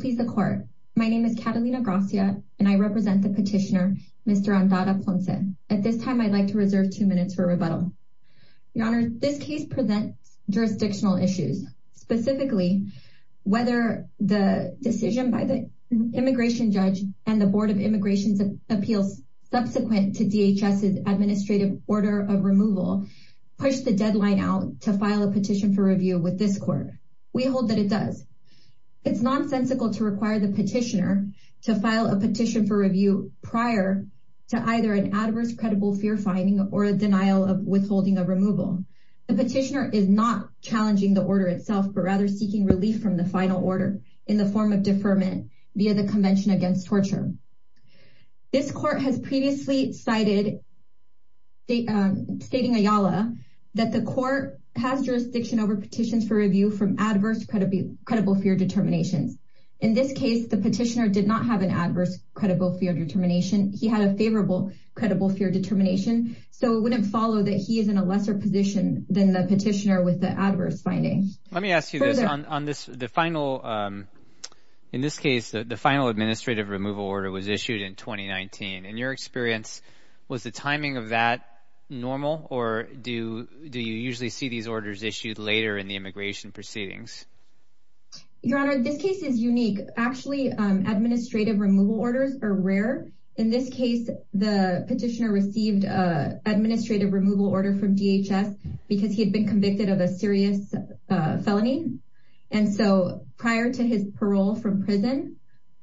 Please the court. My name is Catalina Gracia, and I represent the petitioner, Mr. Andara-Ponce. At this time, I'd like to reserve two minutes for rebuttal. Your Honor, this case presents jurisdictional issues, specifically whether the decision by the immigration judge and the Board of Immigration Appeals subsequent to DHS's administrative order of removal pushed the deadline out to file a petition for review with this court. We hold that it does. It's nonsensical to require the petitioner to file a petition for review prior to either an adverse credible fear finding or a denial of withholding a removal. The petitioner is not challenging the order itself, but rather seeking relief from the final order in the form of deferment via the Convention Against Torture. This court has previously cited, stating Ayala, that the court has jurisdiction over petitions for review from adverse credible fear determinations. In this case, the petitioner did not have an adverse credible fear determination. He had a favorable credible fear determination, so it wouldn't follow that he is in a lesser position than the petitioner with the adverse finding. Let me ask you this. In this case, the final administrative removal order was issued in 2019. In your experience, was the timing of that normal, or do you usually see these orders issued later in the immigration proceedings? Your Honor, this case is unique. Actually, administrative removal orders are rare. In this case, the petitioner received an administrative removal order from DHS because he had been convicted of a serious felony. And so prior to his parole from prison,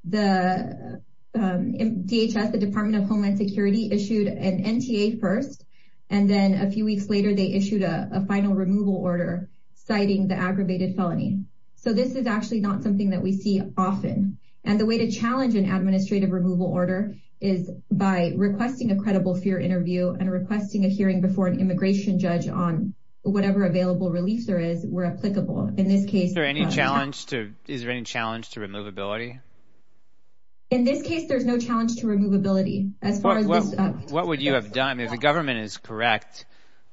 DHS, the Department of Homeland Security, issued an NTA first, and then a few weeks later, they issued a final removal order citing the aggravated felony. So this is actually not something that we see often. And the way to challenge an administrative removal order is by requesting a credible fear interview and requesting a hearing before an immigration judge on whatever available relief there is, where applicable. Is there any challenge to removability? In this case, there's no challenge to removability. What would you have done? If the government is correct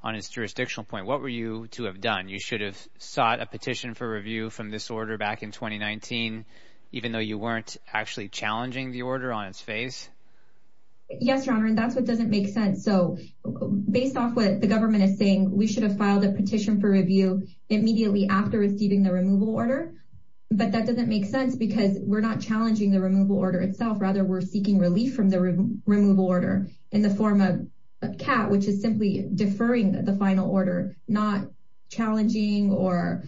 on its jurisdictional point, what were you to have done? You should have sought a petition for review from this order back in 2019, even though you weren't actually challenging the order on its face? Yes, Your Honor, and that's what doesn't make sense. So based off what the government is saying, we should have filed a petition for review immediately after receiving the removal order. But that doesn't make sense because we're not challenging the removal order itself. Rather, we're seeking relief from the removal order in the form of CAT, which is simply deferring the final order, not challenging or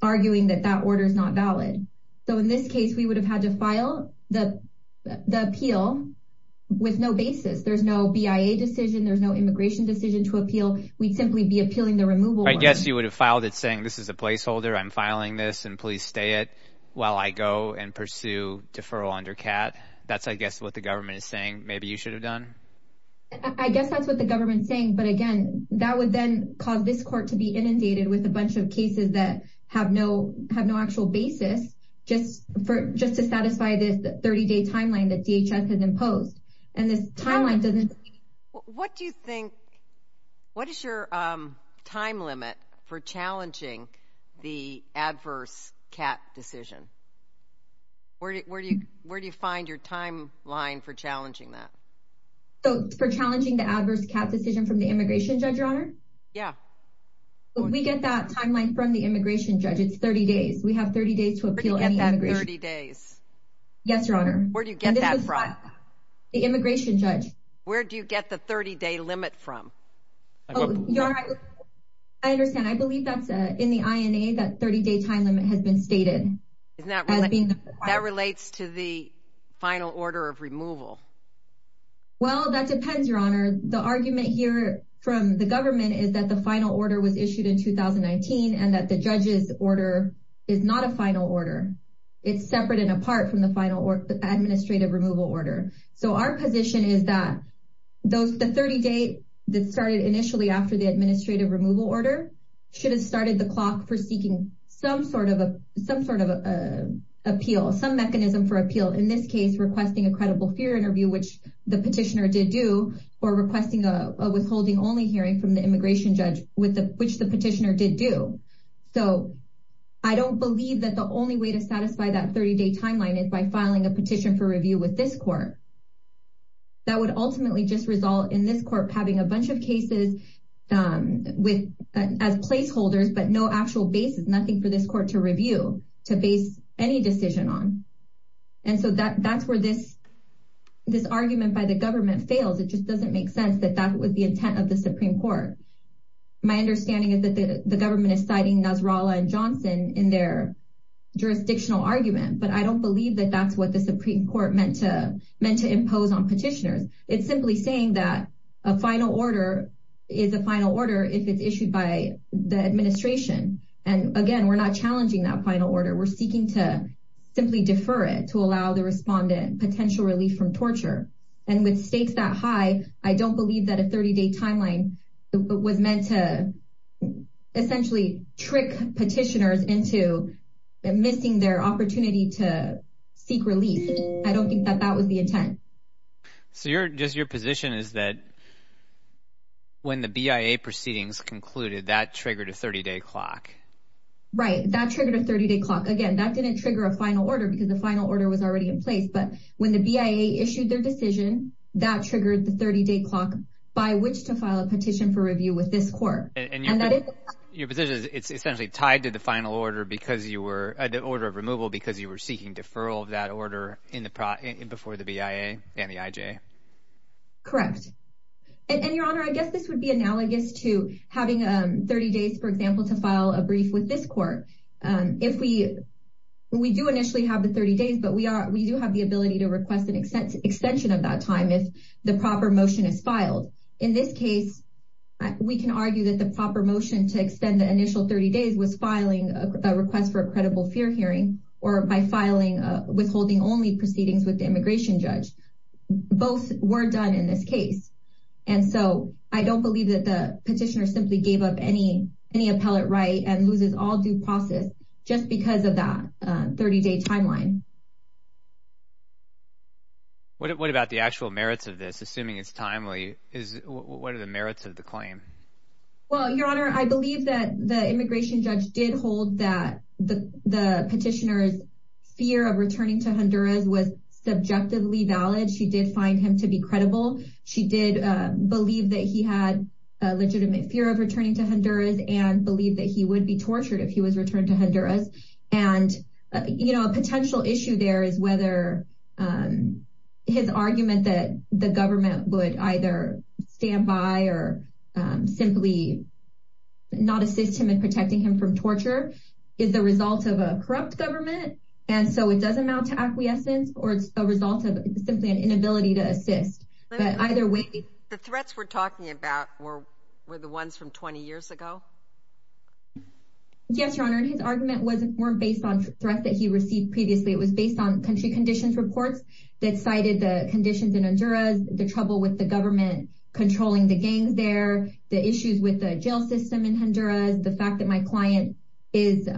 arguing that that order is not valid. So in this case, we would have had to file the appeal with no basis. There's no BIA decision. There's no immigration decision to appeal. We'd simply be appealing the removal. I guess you would have filed it saying this is a placeholder. I'm filing this and please stay it while I go and pursue deferral under CAT. That's, I guess, what the government is saying. Maybe you should have done. I guess that's what the government's saying. But again, that would then cause this court to be inundated with a bunch of cases that have no have no actual basis just for just to satisfy this 30 day timeline that DHS has imposed. And this timeline doesn't. What do you think? What is your time limit for challenging the adverse CAT decision? Where do you where do you find your timeline for challenging that? So for challenging the adverse CAT decision from the immigration judge, your honor? Yeah. But we get that timeline from the immigration judge. It's 30 days. We have 30 days to appeal. And that 30 days. Yes, your honor. Where do you get that from? The immigration judge. Where do you get the 30 day limit from? Your honor, I understand. I believe that's in the INA, that 30 day time limit has been stated. Isn't that being that relates to the final order of removal? Well, that depends, your honor. The argument here from the government is that the final order was issued in 2019 and that the judge's order is not a final order. It's separate and apart from the final administrative removal order. So our position is that those the 30 day that started initially after the administrative removal order should have started the clock for seeking some sort of some sort of appeal, some mechanism for appeal, in this case, requesting a credible fear interview, which the petitioner did do or requesting a withholding only hearing from the immigration judge with which the petitioner did do. So I don't believe that the only way to satisfy that 30 day timeline is by filing a petition for review with this court. That would ultimately just result in this court having a bunch of cases with as placeholders, but no actual basis, nothing for this court to review to base any decision on. And so that that's where this this argument by the government fails. It just doesn't make sense that that was the intent of the Supreme Court. My understanding is that the government is citing Nasrallah and Johnson in their jurisdictional argument, but I don't believe that that's what the Supreme Court meant to meant to impose on petitioners. It's simply saying that a final order is a final order if it's issued by the administration. And again, we're not challenging that final order. We're seeking to simply defer it to allow the respondent potential relief from torture. And with stakes that high, I don't believe that a 30 day timeline was meant to essentially trick petitioners into missing their opportunity to seek relief. I don't think that that was the intent. So you're just your position is that. When the BIA proceedings concluded, that triggered a 30 day clock, right, that triggered a 30 day clock again, that didn't trigger a final order because the final order was already in place. But when the BIA issued their decision that triggered the 30 day clock by which to file a petition for review with this court and that is your position, it's essentially tied to the final order because you were at the order of removal because you were seeking deferral of that order in the before the BIA and the IJ. Correct. And your honor, I guess this would be analogous to having 30 days, for example, to file a brief with this court. If we we do initially have the 30 days, but we are we do have the ability to request an extension of that time if the proper motion is filed. In this case, we can argue that the proper motion to extend the initial 30 days was filing a request for a credible fear hearing or by filing withholding only proceedings with the immigration judge. Both were done in this case. And so I don't believe that the petitioner simply gave up any any appellate right and loses all due process just because of that 30 day timeline. What about the actual merits of this? Assuming it's timely, is what are the merits of the claim? Well, your honor, I believe that the immigration judge did hold that the the petitioner's fear of returning to Honduras was subjectively valid. She did find him to be credible. She did believe that he had a legitimate fear of returning to Honduras and believe that he would be tortured if he was returned to Honduras. And, you know, a potential issue there is whether his argument that the government would either stand by or simply not assist him in protecting him from torture is the result of a corrupt government. And so it doesn't amount to acquiescence or a result of simply an inability to assist. But either way, the threats we're talking about were were the ones from 20 years ago. Yes, your honor, and his argument wasn't weren't based on threats that he received previously, it was based on country conditions reports. That cited the conditions in Honduras, the trouble with the government controlling the gangs there, the issues with the jail system in Honduras. The fact that my client is,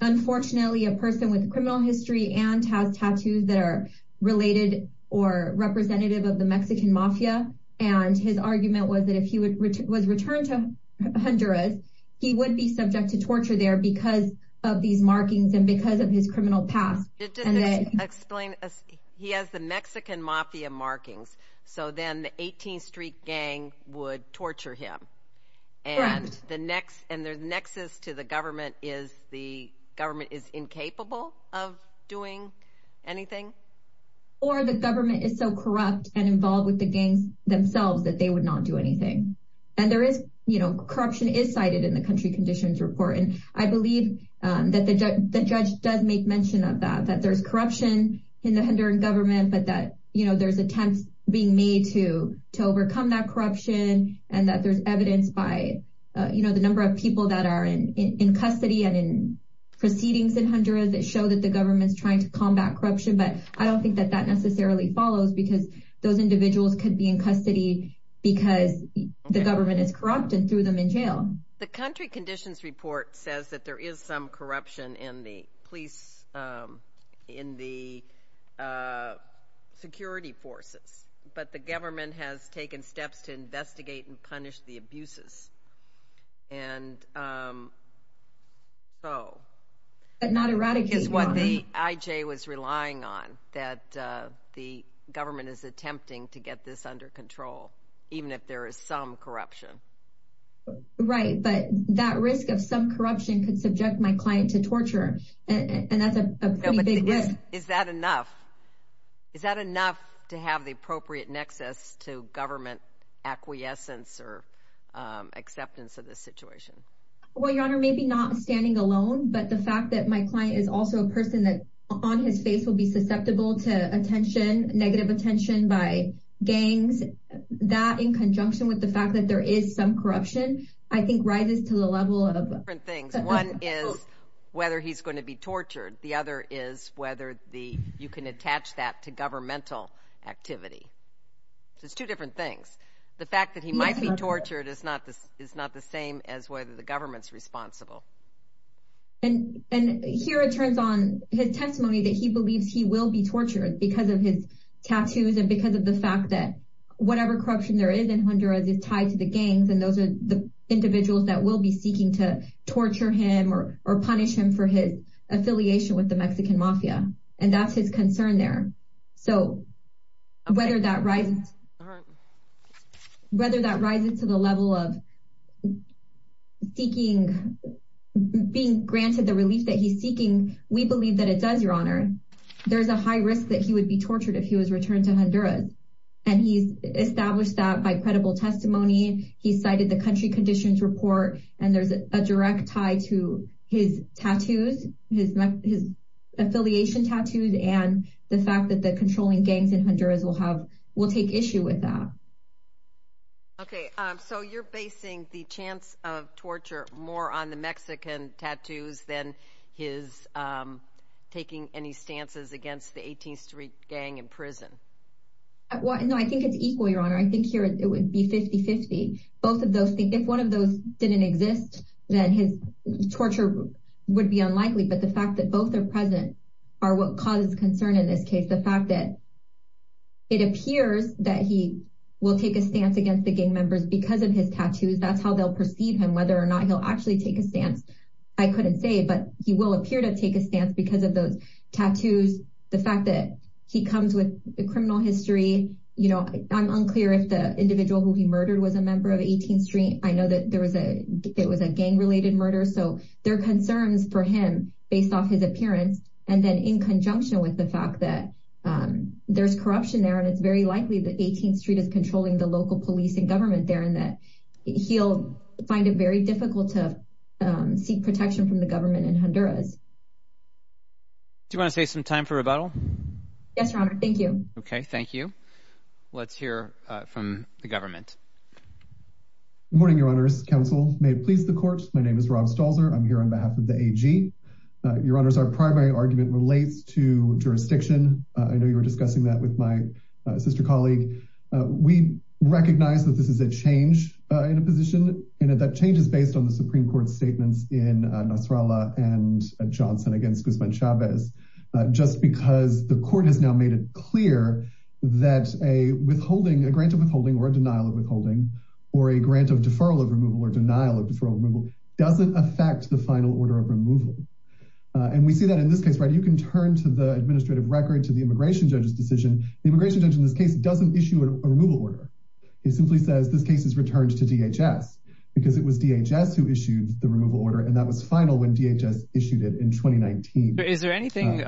unfortunately, a person with criminal history and has tattoos that are related or representative of the Mexican mafia. And his argument was that if he was returned to Honduras, he would be subject to torture there because of these markings and because of his criminal past. It didn't explain. He has the Mexican mafia markings. So then the 18th Street gang would torture him. And the next and their nexus to the government is the government is incapable of doing anything. Or the government is so corrupt and involved with the gangs themselves that they would not do anything. And there is, you know, corruption is cited in the country conditions report. And I believe that the judge does make mention of that, that there's corruption in the Honduran government, but that, you know, there's attempts being made to to overcome that corruption and that there's evidence by, you know, the number of people that are in custody and in proceedings in Honduras that show that the government's trying to combat corruption. But I don't think that that necessarily follows because those individuals could be in custody because the government is corrupt and threw them in jail. The country conditions report says that there is some corruption in the police, in the security forces. But the government has taken steps to investigate and punish the abuses. And. So. But not erratic is what the IJ was relying on, that the government is attempting to get this under control, even if there is some corruption. Right. But that risk of some corruption could subject my client to torture. And that's a big risk. Is that enough? Is that enough to have the appropriate nexus to government acquiescence or acceptance of this situation? Well, your honor, maybe not standing alone, but the fact that my client is also a person that on his face will be susceptible to attention, negative attention by gangs, that in conjunction with the fact that there is some corruption, I think rises to the level of different things. One is whether he's going to be tortured. The other is whether the you can attach that to governmental activity. There's two different things. The fact that he might be tortured is not this is not the same as whether the government's responsible. And and here it turns on his testimony that he believes he will be tortured because of his tattoos and because of the fact that whatever corruption there is in Honduras is tied to the gangs. And those are the individuals that will be seeking to torture him or or punish him for his affiliation with the Mexican mafia. And that's his concern there. So whether that rises. Whether that rises to the level of seeking being granted the relief that he's seeking. We believe that it does, your honor. There's a high risk that he would be tortured if he was returned to Honduras. And he's established that by credible testimony. He cited the country conditions report. And there's a direct tie to his tattoos, his his affiliation tattoos and the fact that the controlling gangs in Honduras will have will take issue with that. OK, so you're basing the chance of torture more on the Mexican tattoos than his taking any stances against the 18th Street gang in prison. Well, no, I think it's equal, your honor. I think here it would be 50 50. Both of those things, if one of those didn't exist, then his torture would be unlikely. But the fact that both are present are what causes concern in this case. The fact that. It appears that he will take a stance against the gang members because of his tattoos, that's how they'll perceive him, whether or not he'll actually take a stance. I couldn't say, but he will appear to take a stance because of those tattoos. The fact that he comes with a criminal history, you know, I'm unclear if the individual who he murdered was a member of 18th Street. I know that there was a it was a gang related murder. So there are concerns for him based off his appearance. And then in conjunction with the fact that there's corruption there, and it's very likely that 18th Street is controlling the local police and government there and that he'll find it very difficult to seek protection from the government in Honduras. Do you want to say some time for rebuttal? Yes, Robert. Thank you. OK, thank you. Let's hear from the government. Good morning, Your Honors. Counsel, may it please the court. My name is Rob Stalzer. I'm here on behalf of the AG. Your Honors, our primary argument relates to jurisdiction. I know you were discussing that with my sister colleague. We recognize that this is a change in a position and that change is based on the Supreme Court statements in Nasrallah and Johnson against Guzman Chavez, just because the court has now made it clear that a withholding, a grant of withholding or a denial of withholding or a grant of deferral of removal or denial of deferral removal doesn't affect the final order of removal. And we see that in this case, right? You can turn to the administrative record to the immigration judge's decision. The immigration judge in this case doesn't issue a removal order. It simply says this case is returned to DHS because it was DHS who issued the removal order. And that was final when DHS issued it in 2019. Is there anything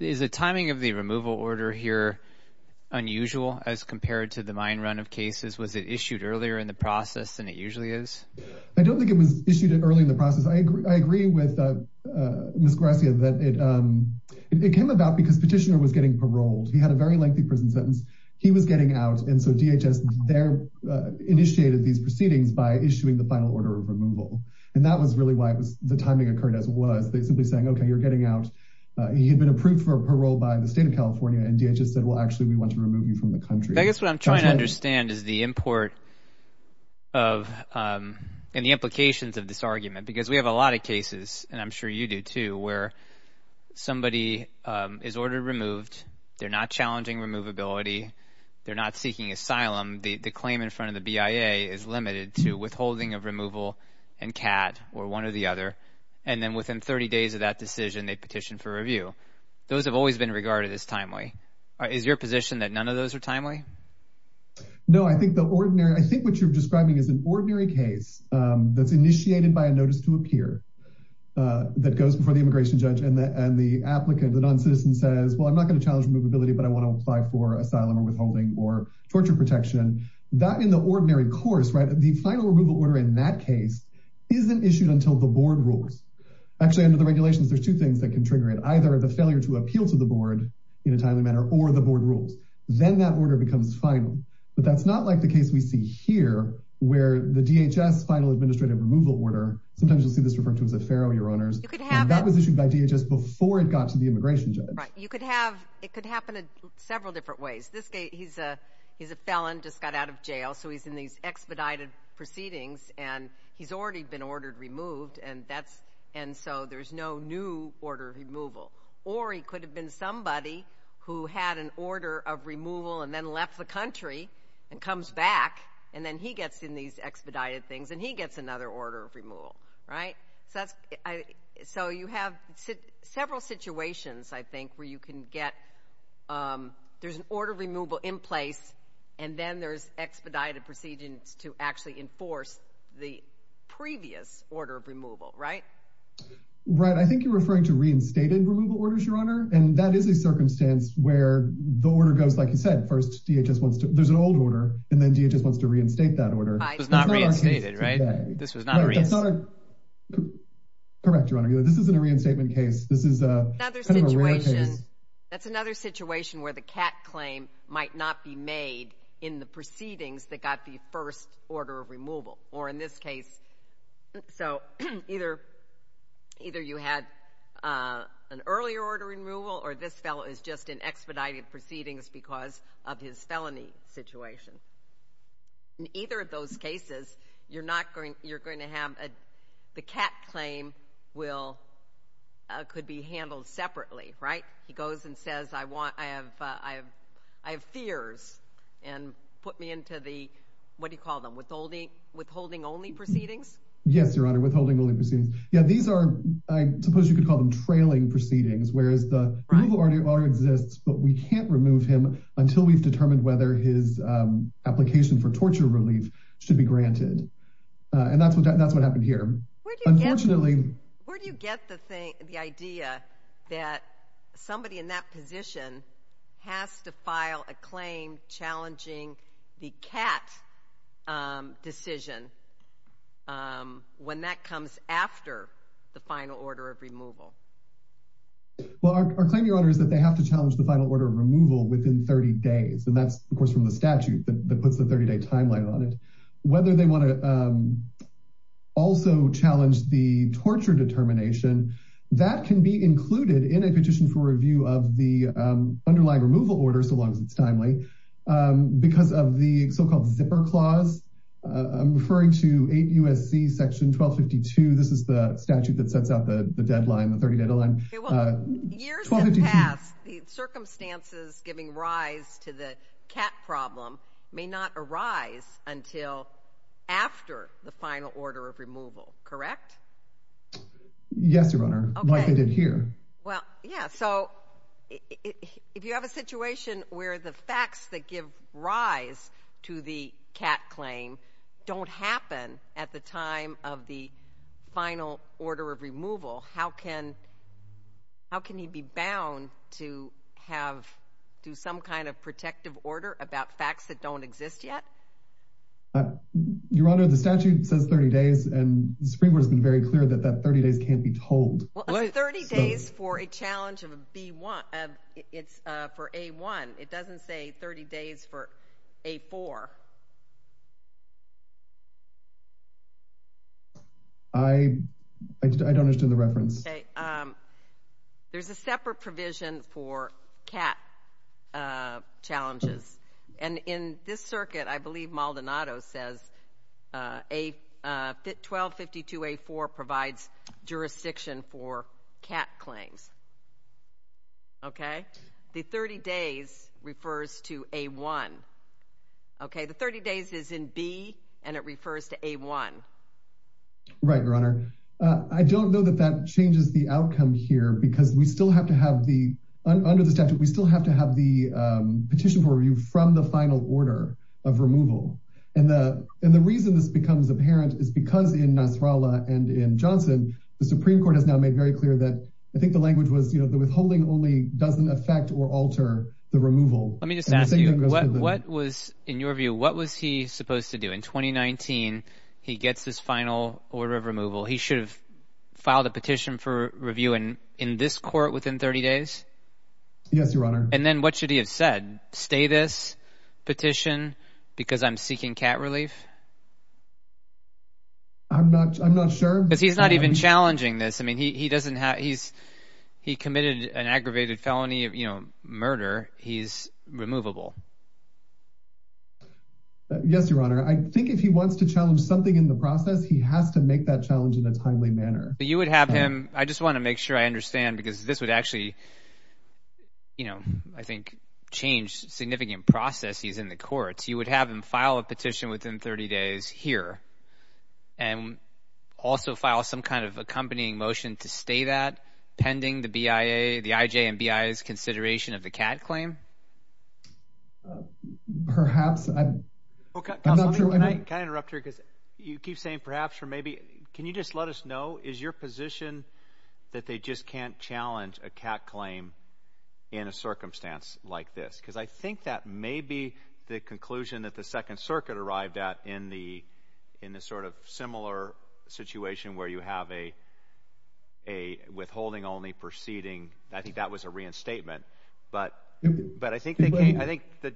is the timing of the removal order here unusual as compared to the mine run of cases? Was it issued earlier in the process than it usually is? I don't think it was issued early in the process. I agree. I agree with Ms. Garcia that it it came about because petitioner was getting paroled. He had a very lengthy prison sentence. He was getting out. And so DHS there initiated these proceedings by issuing the final order of removal. And that was really why it was the timing occurred as was they simply saying, OK, you're getting out. He had been approved for parole by the state of California. And DHS said, well, actually, we want to remove you from the country. I guess what I'm trying to understand is the import. Of the implications of this argument, because we have a lot of cases, and I'm sure you do, too, where somebody is ordered removed. They're not challenging removability. They're not seeking asylum. The claim in front of the BIA is limited to withholding of removal and cat or one or the other. And then within 30 days of that decision, they petition for review. Those have always been regarded as timely. Is your position that none of those are timely? No, I think the ordinary I think what you're describing is an ordinary case that's initiated by a notice to appear that goes before the immigration judge and the and the applicant, the noncitizen says, well, I'm not going to challenge movability, but I want to apply for asylum or withholding or torture protection. That in the ordinary course, right. The final removal order in that case isn't issued until the board rules. Actually, under the regulations, there's two things that can trigger it. Either the failure to appeal to the board in a timely manner or the board rules. Then that order becomes final. But that's not like the case we see here, where the DHS final administrative removal order. Sometimes you'll see this referred to as a pharaoh, your honors. You could have that was issued by DHS before it got to the immigration judge. Right. You could have it could happen in several different ways. This guy, he's a he's a felon, just got out of jail. So he's in these expedited proceedings and he's already been ordered removed. And that's and so there's no new order removal. Or he could have been somebody who had an order of removal and then left the country and comes back. And then he gets in these expedited things and he gets another order of removal. Right. So that's so you have several situations, I think, where you can get there's an order of removal in place and then there's expedited procedures to actually enforce the previous order of removal. Right. Right. I think you're referring to reinstated removal orders, your honor. And that is a circumstance where the order goes, like you said, first, there's an old order and then DHS wants to reinstate that order. It's not reinstated, right? This was not correct, your honor. This isn't a reinstatement case. This is another situation. That's another situation where the cat claim might not be made in the proceedings that got the first order of removal or in this case. So either either you had an earlier order removal or this fellow is just in expedited proceedings because of his felony situation. In either of those cases, you're not going you're going to have the cat claim will could be handled separately, right? He goes and says, I want I have I have I have fears and put me into the what do you call them withholding withholding only proceedings? Yes, your honor. Withholding only proceedings. Yeah, these are I suppose you could call them trailing proceedings, whereas the people already already exists. But we can't remove him until we've determined whether his application for torture relief should be granted. And that's what that's what happened here. Unfortunately, where do you get the thing, the idea that somebody in that position has to file a claim challenging the cat decision when that comes after the final order of removal? Well, our claim, your honor, is that they have to challenge the final order of removal within 30 days, and that's, of course, from the statute that puts the 30 day timeline on it. Whether they want to also challenge the torture determination, that can be included in a petition for review of the underlying removal order, so long as it's timely, because of the so-called zipper clause. I'm referring to eight USC section 1252. This is the statute that sets out the deadline, the 30 deadline. Years have passed. The circumstances giving rise to the cat problem may not arise until after the final order of removal, correct? Yes, your honor, like I did here. Well, yeah. So if you have a situation where the facts that give rise to the cat claim don't happen at the time of the final order of removal, how can how can he be bound to have to some kind of protective order about facts that don't exist yet? Your honor, the statute says 30 days, and the Supreme Court has been very clear that that 30 days can't be told. Well, 30 days for a challenge of a B1, it's for A1. It doesn't say 30 days for A4. I don't understand the reference. OK, there's a separate provision for cat challenges. And in this circuit, I believe Maldonado says a 1252 A4 provides jurisdiction for cat claims. OK, the 30 days refers to A1. OK, the 30 days is in B and it refers to A1. Right, your honor, I don't know that that changes the outcome here because we still have to have the under the statute, we still have to have the petition for review from the final order of removal. And the and the reason this becomes apparent is because in Nasrallah and in Johnson, the Supreme Court has now made very clear that I think the language was, you know, the withholding only doesn't affect or alter the removal. Let me just ask you, what was in your view, what was he supposed to do in 2019? He gets this final order of removal. He should have filed a petition for review and in this court within 30 days. Yes, your honor. And then what should he have said? Stay this petition because I'm seeking cat relief. I'm not I'm not sure because he's not even challenging this. I mean, he doesn't have he's he committed an aggravated felony of, you know, murder. He's removable. Yes, your honor. I think if he wants to challenge something in the process, he has to make that challenge in a timely manner. But you would have him. I just want to make sure I understand, because this would actually. You know, I think change significant process, he's in the courts, you would have him file a petition within 30 days here. And also file some kind of accompanying motion to stay that pending the BIA, the IJ and BIA's consideration of the cat claim. OK, perhaps. Can I interrupt her because you keep saying perhaps or maybe, can you just let us know, is your position that they just can't challenge a cat claim in a circumstance like this? Because I think that may be the conclusion that the Second Circuit arrived at in the in the sort of similar situation where you have a. A withholding only proceeding, I think that was a reinstatement, but but I think I think the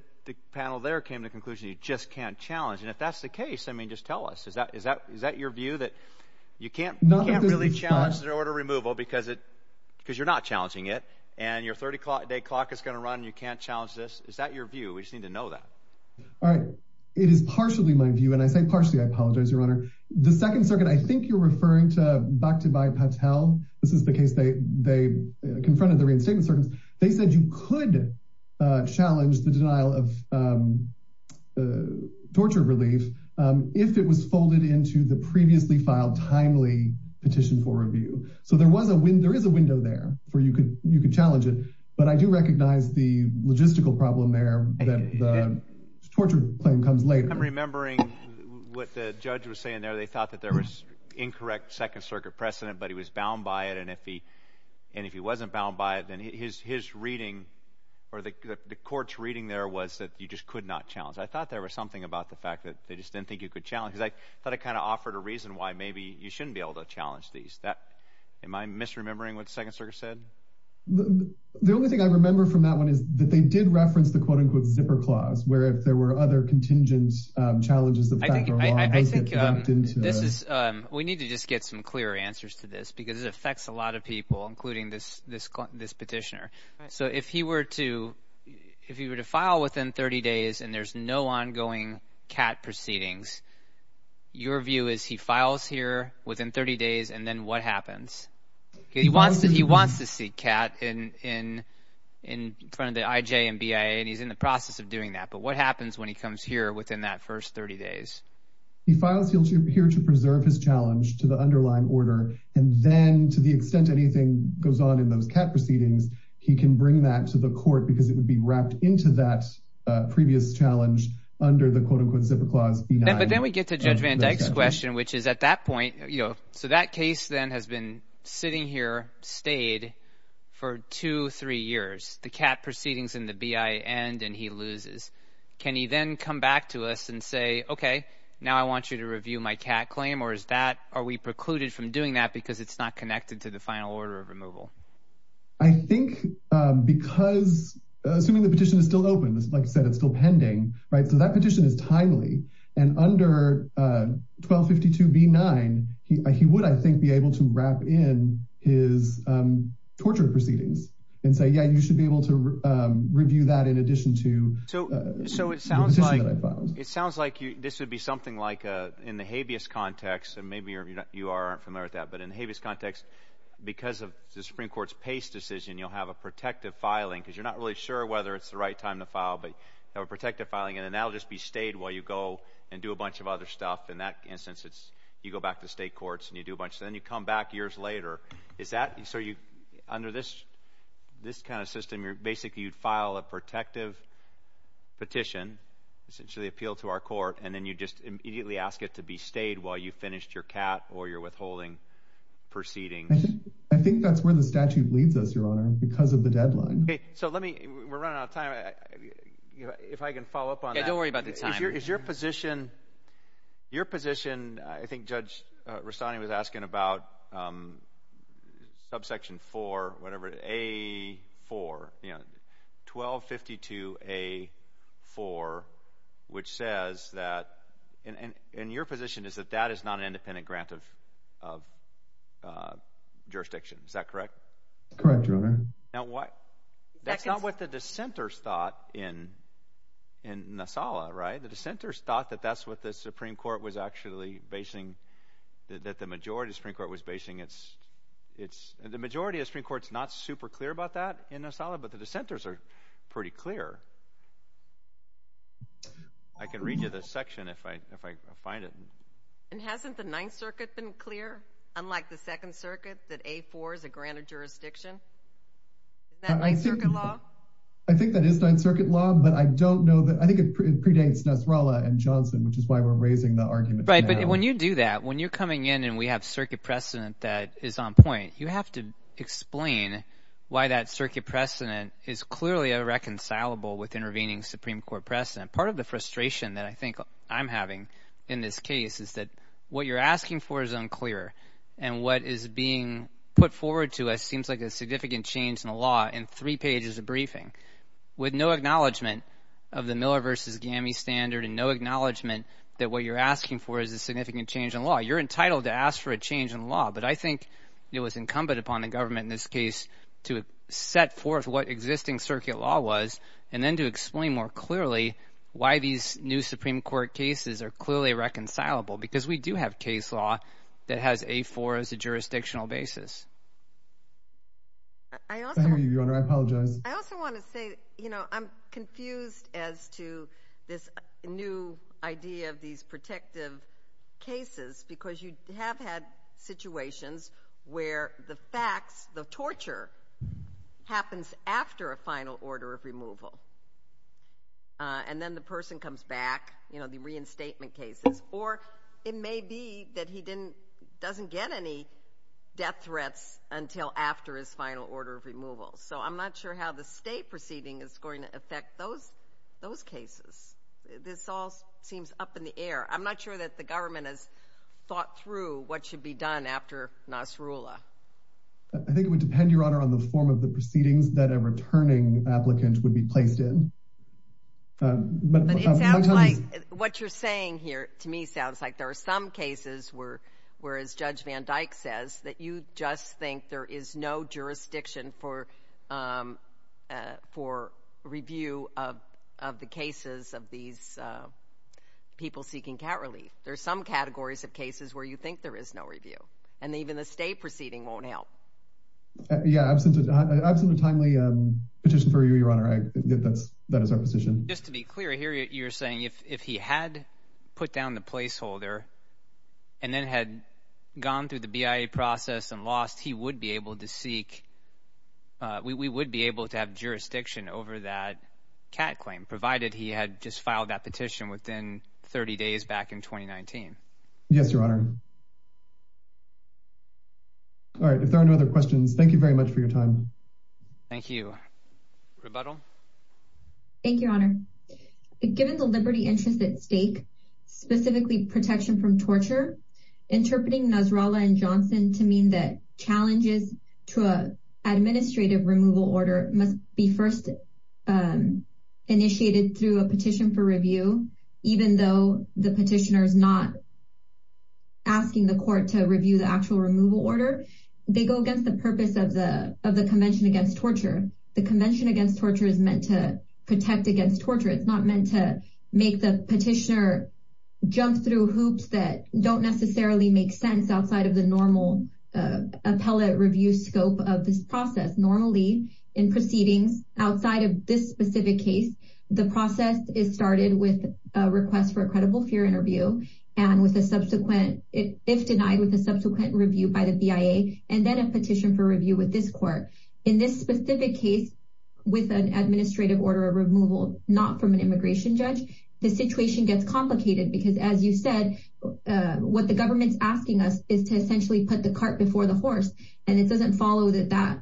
panel there came to the conclusion you just can't challenge. And if that's the case, I mean, just tell us, is that is that is that your view that you can't not really challenge the order removal because it because you're not challenging it. And your 30 day clock is going to run. You can't challenge this. Is that your view? We just need to know that. All right. It is partially my view. And I say partially, I apologize, Your Honor. The Second Circuit, I think you're referring to Bakhtibhai Patel. This is the case. They they confronted the reinstatement. They said you could challenge the denial of torture relief if it was folded into the previously filed timely petition for review. So there was a win. There is a window there where you could you could challenge it. But I do recognize the logistical problem there that the torture claim comes later. I'm remembering what the judge was saying there. They thought that there was incorrect Second Circuit precedent, but he was bound by it. And if he and if he wasn't bound by it, then his his reading or the court's reading there was that you just could not challenge. I thought there was something about the fact that they just didn't think you could challenge. I thought I kind of offered a reason why maybe you shouldn't be able to challenge these. That am I misremembering what Second Circuit said? The only thing I remember from that one is that they did reference the quote unquote zipper clause, where if there were other contingent challenges, the I think I think this is we need to just get some clear answers to this because it affects a lot of people, including this this this petitioner. So if he were to if he were to file within 30 days and there's no ongoing cat proceedings, your view is he files here within 30 days. And then what happens? He wants that. He wants to see Kat in in in front of the IJ and BIA. And he's in the process of doing that. But what happens when he comes here within that first 30 days? He files here to preserve his challenge to the underlying order, and then to the extent anything goes on in those cat proceedings, he can bring that to the court because it would be wrapped into that previous challenge under the quote unquote zipper clause. But then we get to Judge Van Dyke's question, which is at that point, you know, so that case then has been sitting here, stayed for two, three years. The cat proceedings in the BIA end and he loses. Can he then come back to us and say, OK, now I want you to review my cat claim or is that are we precluded from doing that because it's not connected to the final order of removal? I think because assuming the petition is still open, like I said, it's still pending. Right. So that petition is timely. And under 1252 B9, he would, I think, be able to wrap in his torture proceedings and say, yeah, you should be able to review that in addition to. So so it sounds like it sounds like this would be something like in the habeas context and maybe you are familiar with that, but in the habeas context, because of the Supreme Court's Pace decision, you'll have a protective filing because you're not really sure whether it's the right time to file, but have a protective filing and that'll just be stayed while you go and do a bunch of other stuff. In that instance, it's you go back to state courts and you do a bunch. Then you come back years later. Is that so you under this this kind of system, you're basically you'd file a petition, essentially appeal to our court, and then you just immediately ask it to be stayed while you finished your cat or your withholding proceedings? I think that's where the statute leads us, Your Honor, because of the deadline. So let me we're running out of time. If I can follow up on that. Don't worry about the time is your position. Your position, I think Judge Rossani was asking about. Subsection four, whatever, a four, you know, twelve fifty two, a four, which says that in your position is that that is not an independent grant of jurisdiction, is that correct? Correct. Now, what that's not what the dissenters thought in in Nassala, right? The dissenters thought that that's what the Supreme Court was actually basing, that the majority of Supreme Court was basing. It's it's the majority of Supreme Court's not super clear about that in Nassala, but the dissenters are pretty clear. I can read you the section if I if I find it. And hasn't the Ninth Circuit been clear, unlike the Second Circuit, that a four is a granted jurisdiction? That I think I think that is Ninth Circuit law, but I don't know that I think it predates Nasrallah and Johnson, which is why we're raising the argument. Right. But when you do that, when you're coming in and we have circuit precedent that is on point, you have to explain why that circuit precedent is clearly a reconcilable with intervening Supreme Court precedent. Part of the frustration that I think I'm having in this case is that what you're asking for is unclear and what is being put forward to us seems like a significant change in the law in three pages of briefing with no acknowledgement of the Miller versus GAMI standard and no acknowledgement that what you're asking for is a significant change in law. You're entitled to ask for a change in law. But I think it was incumbent upon the government in this case to set forth what existing circuit law was and then to explain more clearly why these new Supreme Court cases are clearly reconcilable, because we do have case law that has a four as a jurisdictional basis. I also, Your Honor, I apologize. I also want to say, you know, I'm confused as to this new idea of these protective cases, because you have had situations where the facts, the torture happens after a final order of removal. And then the person comes back, you know, the reinstatement cases, or it may be that he didn't doesn't get any death threats until after his final order of removal. So I'm not sure how the state proceeding is going to affect those those cases. This all seems up in the air. I'm not sure that the government has thought through what should be done after Nasrullah. I think it would depend, Your Honor, on the form of the proceedings that a returning applicant would be placed in. But what you're saying here to me sounds like there are some cases where whereas Judge Van Dyke says that you just think there is no jurisdiction for for review of the cases of these people seeking cat relief. There are some categories of cases where you think there is no review and even the state proceeding won't help. Yeah, I've sent a timely petition for you, Your Honor. I get that as our position. Just to be clear here, you're saying if he had put down the placeholder and then had gone through the BIA process and lost, he would be able to seek. We would be able to have jurisdiction over that cat claim, provided he had just filed that petition within 30 days back in 2019. Yes, Your Honor. All right, if there are no other questions, thank you very much for your time. Thank you, Rebuttal. Thank you, Your Honor. Given the liberty interest at stake, specifically protection from Barala and Johnson to mean that challenges to an administrative removal order must be first initiated through a petition for review, even though the petitioner is not asking the court to review the actual removal order, they go against the purpose of the of the Convention Against Torture. The Convention Against Torture is meant to protect against torture. It's not meant to make the petitioner jump through hoops that don't necessarily make sense outside of the normal appellate review scope of this process. Normally in proceedings outside of this specific case, the process is started with a request for a credible fear interview and with a subsequent, if denied, with a subsequent review by the BIA and then a petition for review with this court. In this specific case, with an administrative order of removal, not from an immigration judge, the situation gets complicated because, as you said, what the government's asking us is to essentially put the cart before the horse. And it doesn't follow that that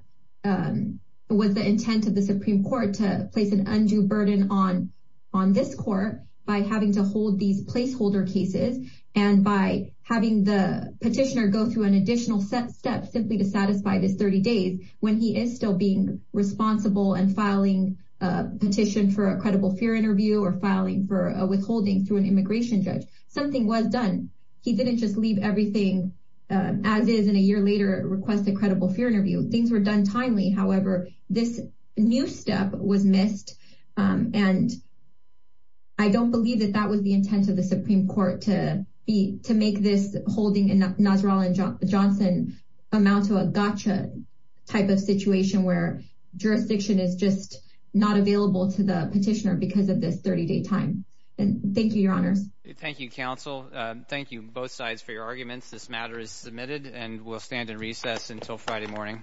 was the intent of the Supreme Court to place an undue burden on this court by having to hold these placeholder cases and by having the petitioner go through an additional step simply to satisfy this 30 days when he is still being responsible and filing a petition for a credible fear interview or filing for a withholding through an immigration judge. Something was done. He didn't just leave everything as is and a year later request a credible fear interview. Things were done timely. However, this new step was missed. And I don't believe that that was the intent of the Supreme Court to be to make this holding in Nasrallah and Johnson amount to a gotcha type of situation where jurisdiction is just not available to the petitioner because of this 30 day time. And thank you, Your Honors. Thank you, counsel. Thank you both sides for your arguments. This matter is submitted and we'll stand in recess until Friday morning.